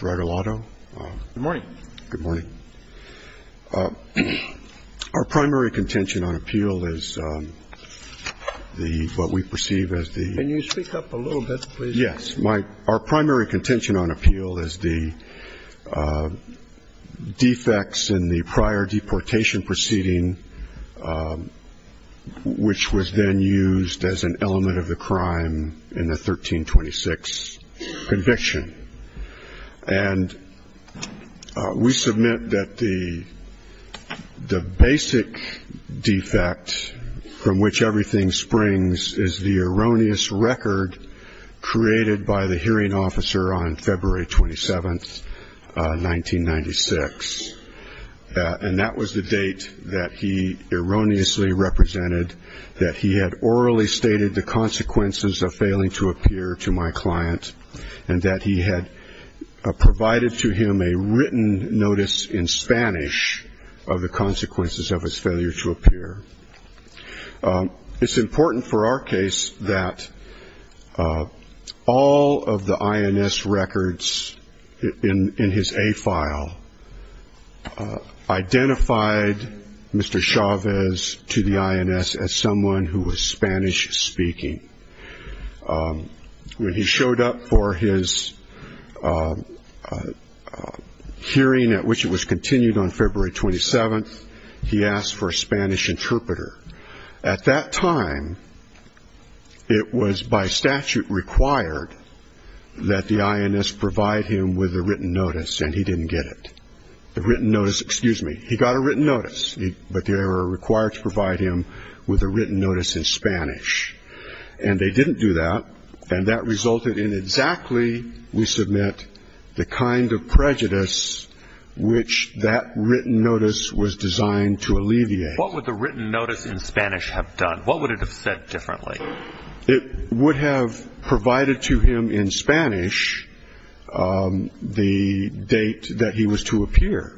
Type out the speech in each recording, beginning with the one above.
Regalado. Good morning. Our primary contention on appeal is the, what we perceive as the Can you speak up a little bit, please? Yes. Our primary contention on appeal is the defects in the prior deportation proceeding, which was then used as an element of the crime, in the 1326 conviction. And we submit that the basic defect from which everything springs is the erroneous record created by the hearing officer on February 27, 1996. And that was the date that he erroneously represented that he had orally stated the consequences of failing to appear to my client, and that he had provided to him a written notice in Spanish of the consequences of his failure to appear. It's important for our case that all of the INS records in his A file identified Mr. Chavez to the INS as someone who was Spanish speaking. When he showed up for his hearing at which it was continued on February 27, he asked for a Spanish interpreter. At that time, it was by statute required that the INS provide him with a written notice, and he didn't get it. The written notice, excuse me, he got a written notice, but they were required to provide him with a written notice in Spanish. And they didn't do that, and that resulted in exactly, we submit, the kind of prejudice which that written notice was designed to alleviate. What would the written notice in Spanish have done? What would it have said differently? It would have provided to him in Spanish the date that he was to appear,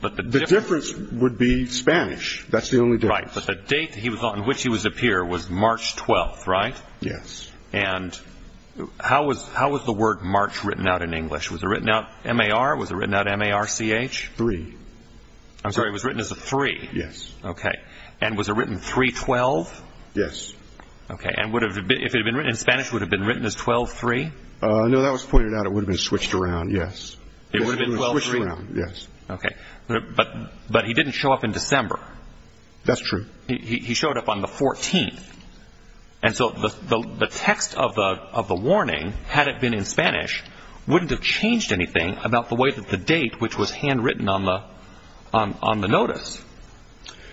but the difference would be Spanish, that's the only difference. The date on which he would appear was March 12, right? Yes. And how was the word March written out in English? Was it written out M-A-R? Was it written out M-A-R-C-H? Three. I'm sorry, it was written as a three. Yes. And was it written 3-12? Yes. Okay, and if it had been written in Spanish, would it have been written as 12-3? No, that was pointed out, it would have been switched around, yes. It would have been 12-3? It would have been switched around, yes. Okay, but he didn't show up in December. That's true. He showed up on the 14th, and so the text of the warning, had it been in Spanish, wouldn't have changed anything about the way that the date, which was handwritten on the notice.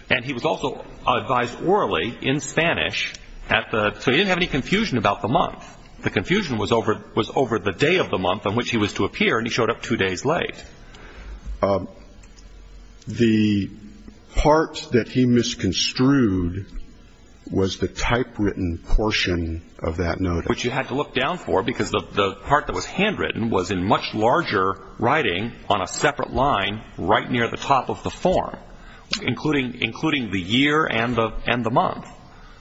And he was also advised orally in Spanish, so he didn't have any confusion about the month. The confusion was over the day of the month on which he was to appear, and he showed up two days late. The part that he misconstrued was the typewritten portion of that notice. Which you had to look down for, because the part that was handwritten was in much larger writing on a separate line right near the top of the form, including the year and the month.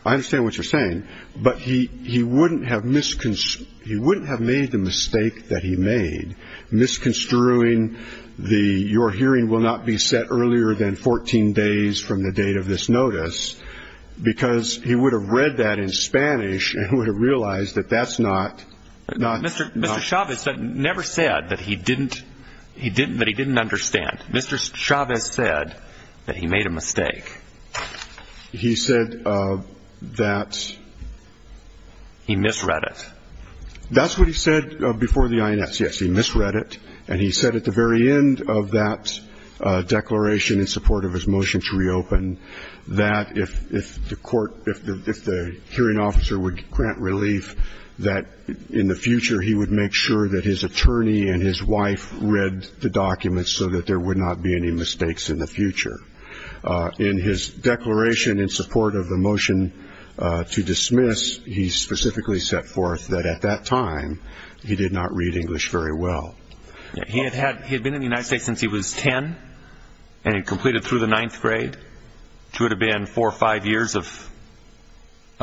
I understand what you're saying, but he wouldn't have made the mistake that he made, misconstruing the, your hearing will not be set earlier than 14 days from the date of this notice, because he would have read that in Spanish and would have realized that that's not... Mr. Chavez never said that he didn't understand. Mr. Chavez said that he made a mistake. He said that... He misread it. That's what he said before the INS. Yes, he misread it, and he said at the very end of that declaration in support of his motion to reopen, that if the hearing officer would grant relief, that in the future he would make sure that his attorney and his wife read the documents so that there would not be any mistakes in the future. In his declaration in support of the motion to dismiss, he specifically set forth that at that time, he did not read English very well. He had been in the United States since he was 10, and he completed through the 9th grade, which would have been 4 or 5 years of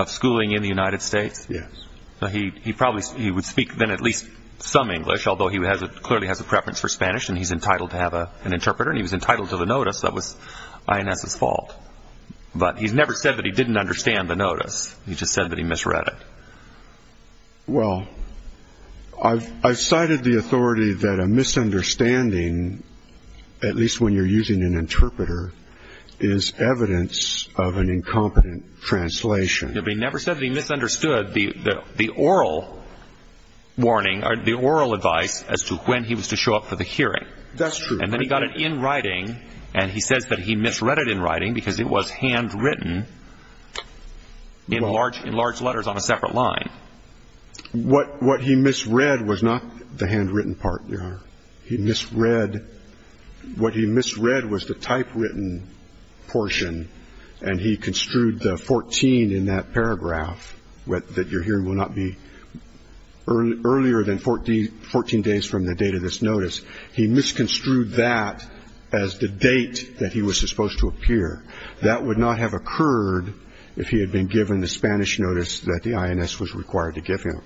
schooling in the United States. Yes. He would speak then at least some English, although he clearly has a preference for Spanish, and he's entitled to have an interpreter, and he was entitled to the notice. That was INS's fault. But he's never said that he didn't understand the notice. He just said that he misread it. Well, I've cited the authority that a misunderstanding, at least when you're using an interpreter, is evidence of an incompetent translation. No, but he never said that he misunderstood the oral warning or the oral advice as to when he was to show up for the hearing. That's true. And then he got it in writing, and he says that he misread it in writing because it was handwritten in large letters on a separate line. What he misread was not the handwritten part, Your Honor. He misread – what he misread was the typewritten portion, and he construed the 14 in that paragraph, that your hearing will not be earlier than 14 days from the date of this notice. He misconstrued that as the date that he was supposed to appear. That would not have occurred if he had been given the Spanish notice that the INS was required to give him.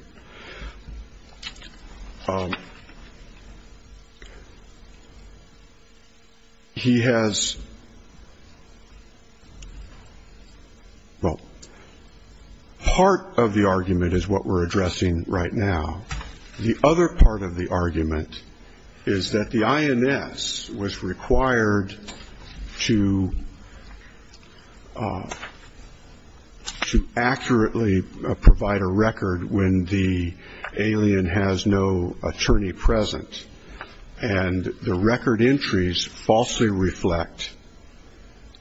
He has – well, part of the argument is what we're addressing right now. The other part of the argument is that the INS was required to accurately provide a record when the alien has no attorney present, and the record entries falsely reflect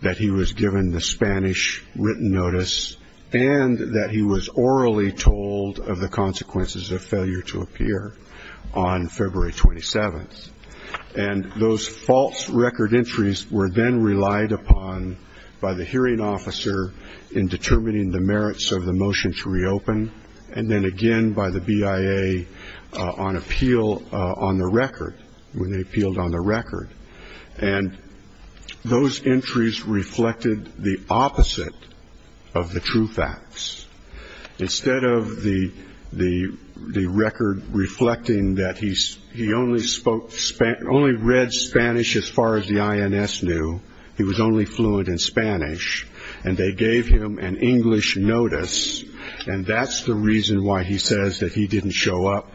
that he was given the Spanish written notice and that he was orally told of the consequences of failure to appear on February 27th. And those false record entries were then relied upon by the hearing officer in determining the merits of the motion to reopen, and then again by the BIA on appeal on the record, when they appealed on the record. And those entries reflected the opposite of the true facts. Instead of the record reflecting that he only spoke – only read Spanish as far as the INS knew, he was only fluent in Spanish, and they gave him an English notice, and that's the reason why he says that he didn't show up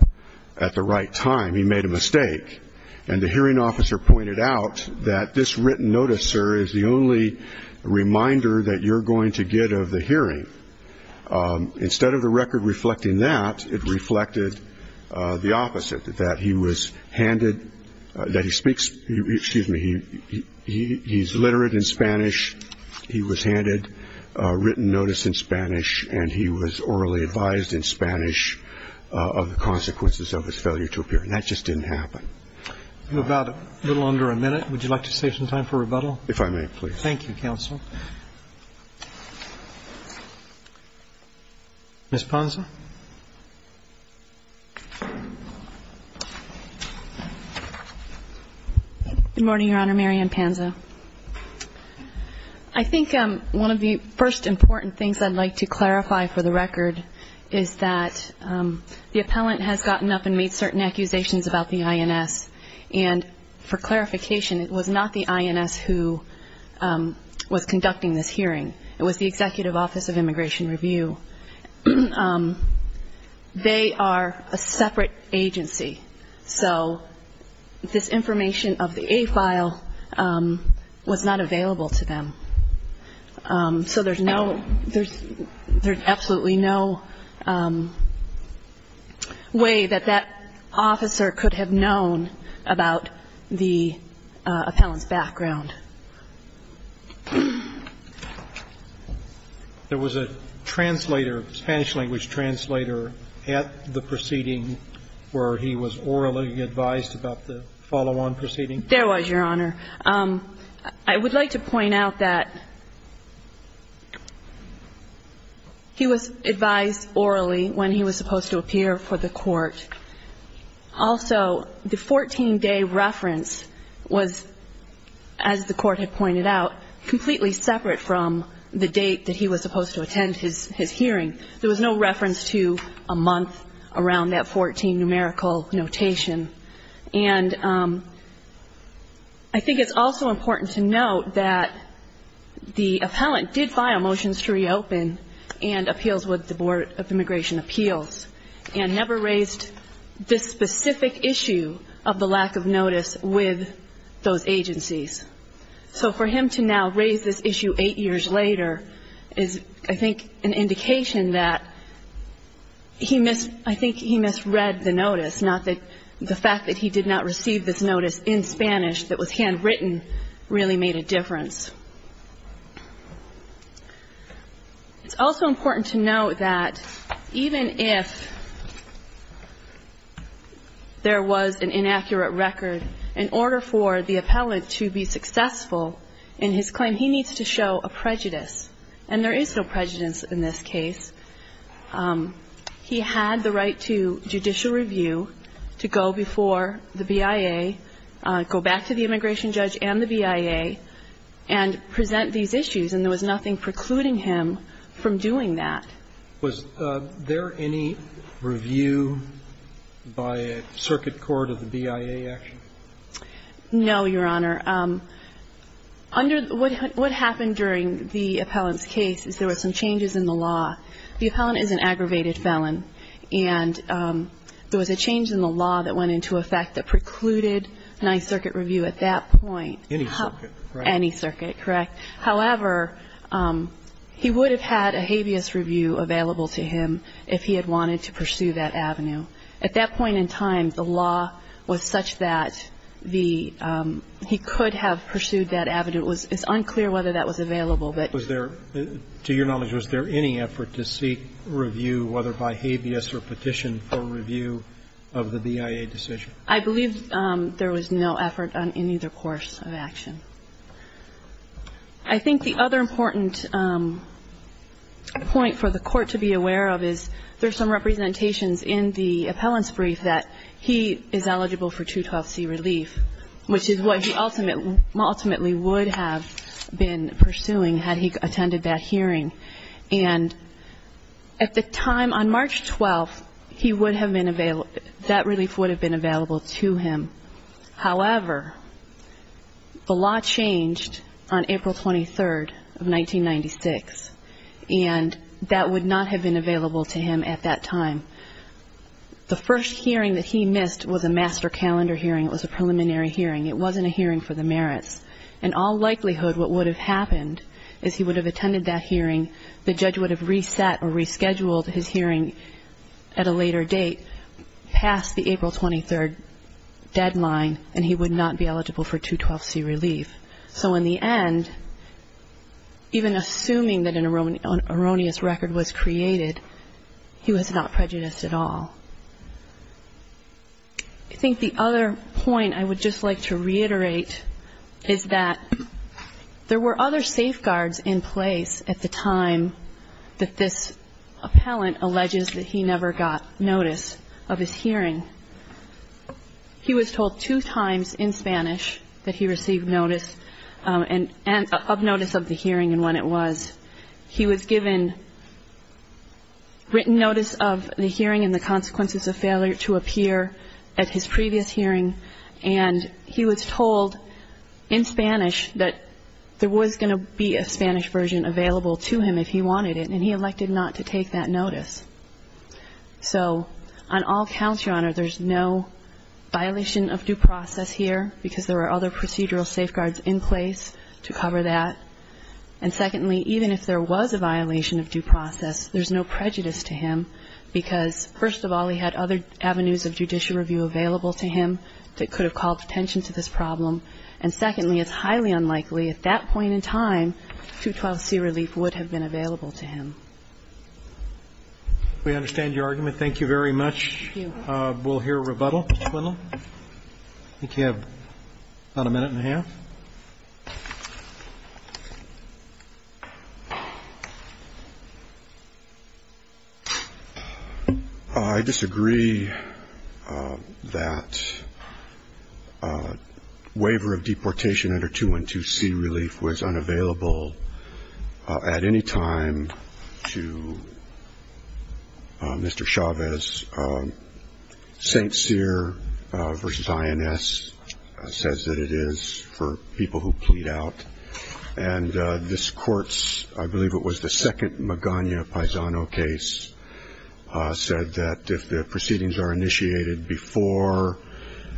at the right time, he made a mistake. And the hearing officer pointed out that this written notice, sir, is the only reminder that you're going to get of the hearing. Instead of the record reflecting that, it reflected the opposite, that he was handed – that he speaks – excuse me, he's literate in Spanish, he was handed a written notice in Spanish, and he was orally advised in Spanish of the consequences of his failure to appear. And that just didn't happen. I'm about a little under a minute. Would you like to save some time for rebuttal? If I may, please. Thank you, counsel. Ms. Ponson. Good morning, Your Honor. Marian Pansa. I think one of the first important things I'd like to clarify for the record is that the appellant has gotten up and made certain accusations about the INS, and for clarification, it was not the INS who was conducting this hearing. It was the Executive Office of Immigration Review. They are a separate agency, so this information of the A-file was not available to them. So there's no – there's absolutely no way that that officer could have known about the appellant's background. There was a translator, a Spanish-language translator, at the proceeding where he was orally advised about the follow-on proceeding? There was, Your Honor. I would like to point out that he was advised orally when he was supposed to appear for the court. Also, the 14-day reference was, as the Court had pointed out, completely separate from the date that he was supposed to attend his hearing. There was no reference to a month around that 14 numerical notation. And I think it's also important to note that the appellant did file motions to reopen and appeals with the Board of Immigration Appeals and never raised this specific issue of the lack of notice with those agencies. So for him to now raise this issue eight years later is, I think, an indication that he missed – I think he misread the notice, not that the fact that he did not receive this notice in Spanish that was handwritten really made a difference. It's also important to note that even if there was an inaccurate record, in order for the appellant to be successful in his claim, he needs to show a prejudice. And there is no prejudice in this case. He had the right to judicial review, to go before the BIA, go back to the immigration judge and the BIA and present these issues. And there was nothing precluding him from doing that. Was there any review by a circuit court of the BIA action? No, Your Honor. Under – what happened during the appellant's case is there were some changes in the law. The appellant is an aggravated felon. And there was a change in the law that went into effect that precluded ninth circuit review at that point. Any circuit, correct? Any circuit, correct. However, he would have had a habeas review available to him if he had wanted to pursue that avenue. At that point in time, the law was such that the – he could have pursued that avenue. It's unclear whether that was available, but – Was there – to your knowledge, was there any effort to seek review, whether by habeas or petition for review of the BIA decision? I think the other important point for the court to be aware of is there's some representations in the appellant's brief that he is eligible for 212C relief, which is what he ultimately would have been pursuing had he attended that hearing. And at the time on March 12th, he would have been – that relief would have been available to him. However, the law changed on April 23rd of 1996, and that would not have been available to him at that time. The first hearing that he missed was a master calendar hearing. It was a preliminary hearing. It wasn't a hearing for the merits. In all likelihood, what would have happened is he would have attended that hearing, the judge would have reset or rescheduled his hearing at a later date, past the April 23rd deadline, and he would not be eligible for 212C relief. So in the end, even assuming that an erroneous record was created, he was not prejudiced at all. I think the other point I would just like to reiterate is that there were other safeguards in place at the time that this appellant alleges that he never got notice of his hearing. He was told two times in Spanish that he received notice – of notice of the hearing and when it was. He was given written notice of the hearing and the consequences of failure to appear at his previous hearing, and he was told in Spanish that there was going to be a Spanish version available to him if he wanted it, and he elected not to take that notice. So on all counts, Your Honor, there's no violation of due process here because there are other procedural safeguards in place to cover that. And secondly, even if there was a violation of due process, there's no prejudice to him because, first of all, he had other avenues of judicial review available to him that could have called attention to this problem. And secondly, it's highly unlikely at that point in time that 212C relief would have been available to him. We understand your argument. Thank you very much. We'll hear a rebuttal. Mr. Quinlan? I think you have about a minute and a half. I disagree that waiver of deportation under 212C relief was unavailable at any time to Mr. Chavez. St. Cyr v. INS says that it is for people who plead out. And this Court's, I believe it was the second Magana-Paisano case, said that if the proceedings are initiated before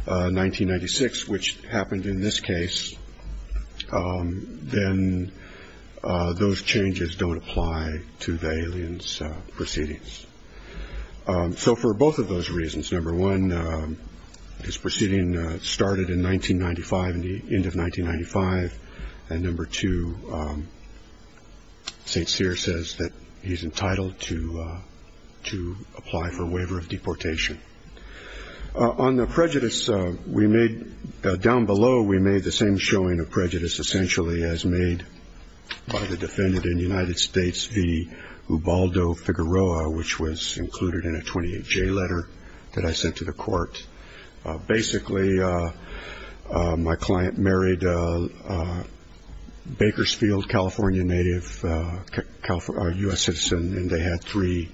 1996, which happened in this case, then those changes don't apply to the alien's proceedings. So for both of those reasons, number one, his proceeding started in 1995, the end of 1995, and number two, St. Cyr says that he's entitled to apply for waiver of deportation. On the prejudice, we made, down below, we made the same showing of prejudice essentially as made by the defendant in the United States, V. Ubaldo Figueroa, which was included in a 28-J letter that I sent to the Court. Basically, my client married a Bakersfield, California native, a U.S. citizen, and they had three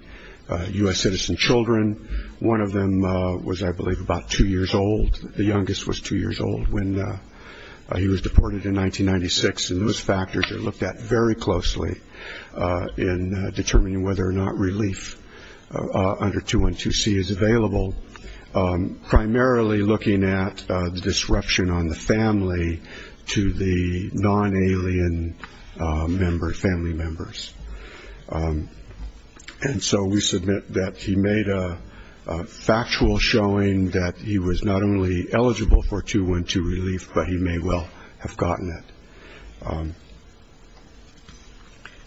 U.S. citizen children. One of them was, I believe, about two years old. The youngest was two years old when he was deported in 1996. And those factors are looked at very closely in determining whether or not relief under 212C is available, primarily looking at the disruption on the family to the non-alien family members. And so we submit that he made a factual showing that he was not only eligible for 212 relief, but he may well have gotten it.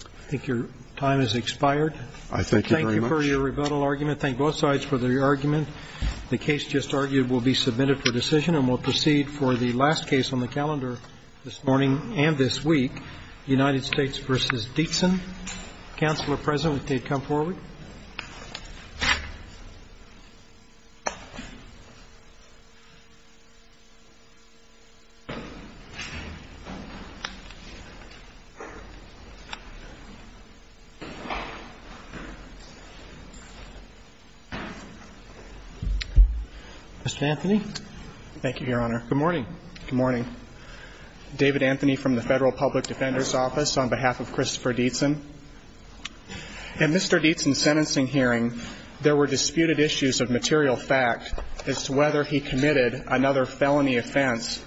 I think your time has expired. I thank you very much. Thank you for your rebuttal argument. Thank both sides for their argument. The case just argued will be submitted for decision and will proceed for the last case on the calendar this morning and this week, United States v. Dietzen. Counsel are present if they'd come forward. Mr. Anthony. Thank you, Your Honor. Good morning. Good morning. David Anthony from the Federal Public Defender's Office on behalf of Christopher Dietzen. In Mr. Dietzen's sentencing hearing, there were disputed issues of material fact as to whether he committed another felony offense.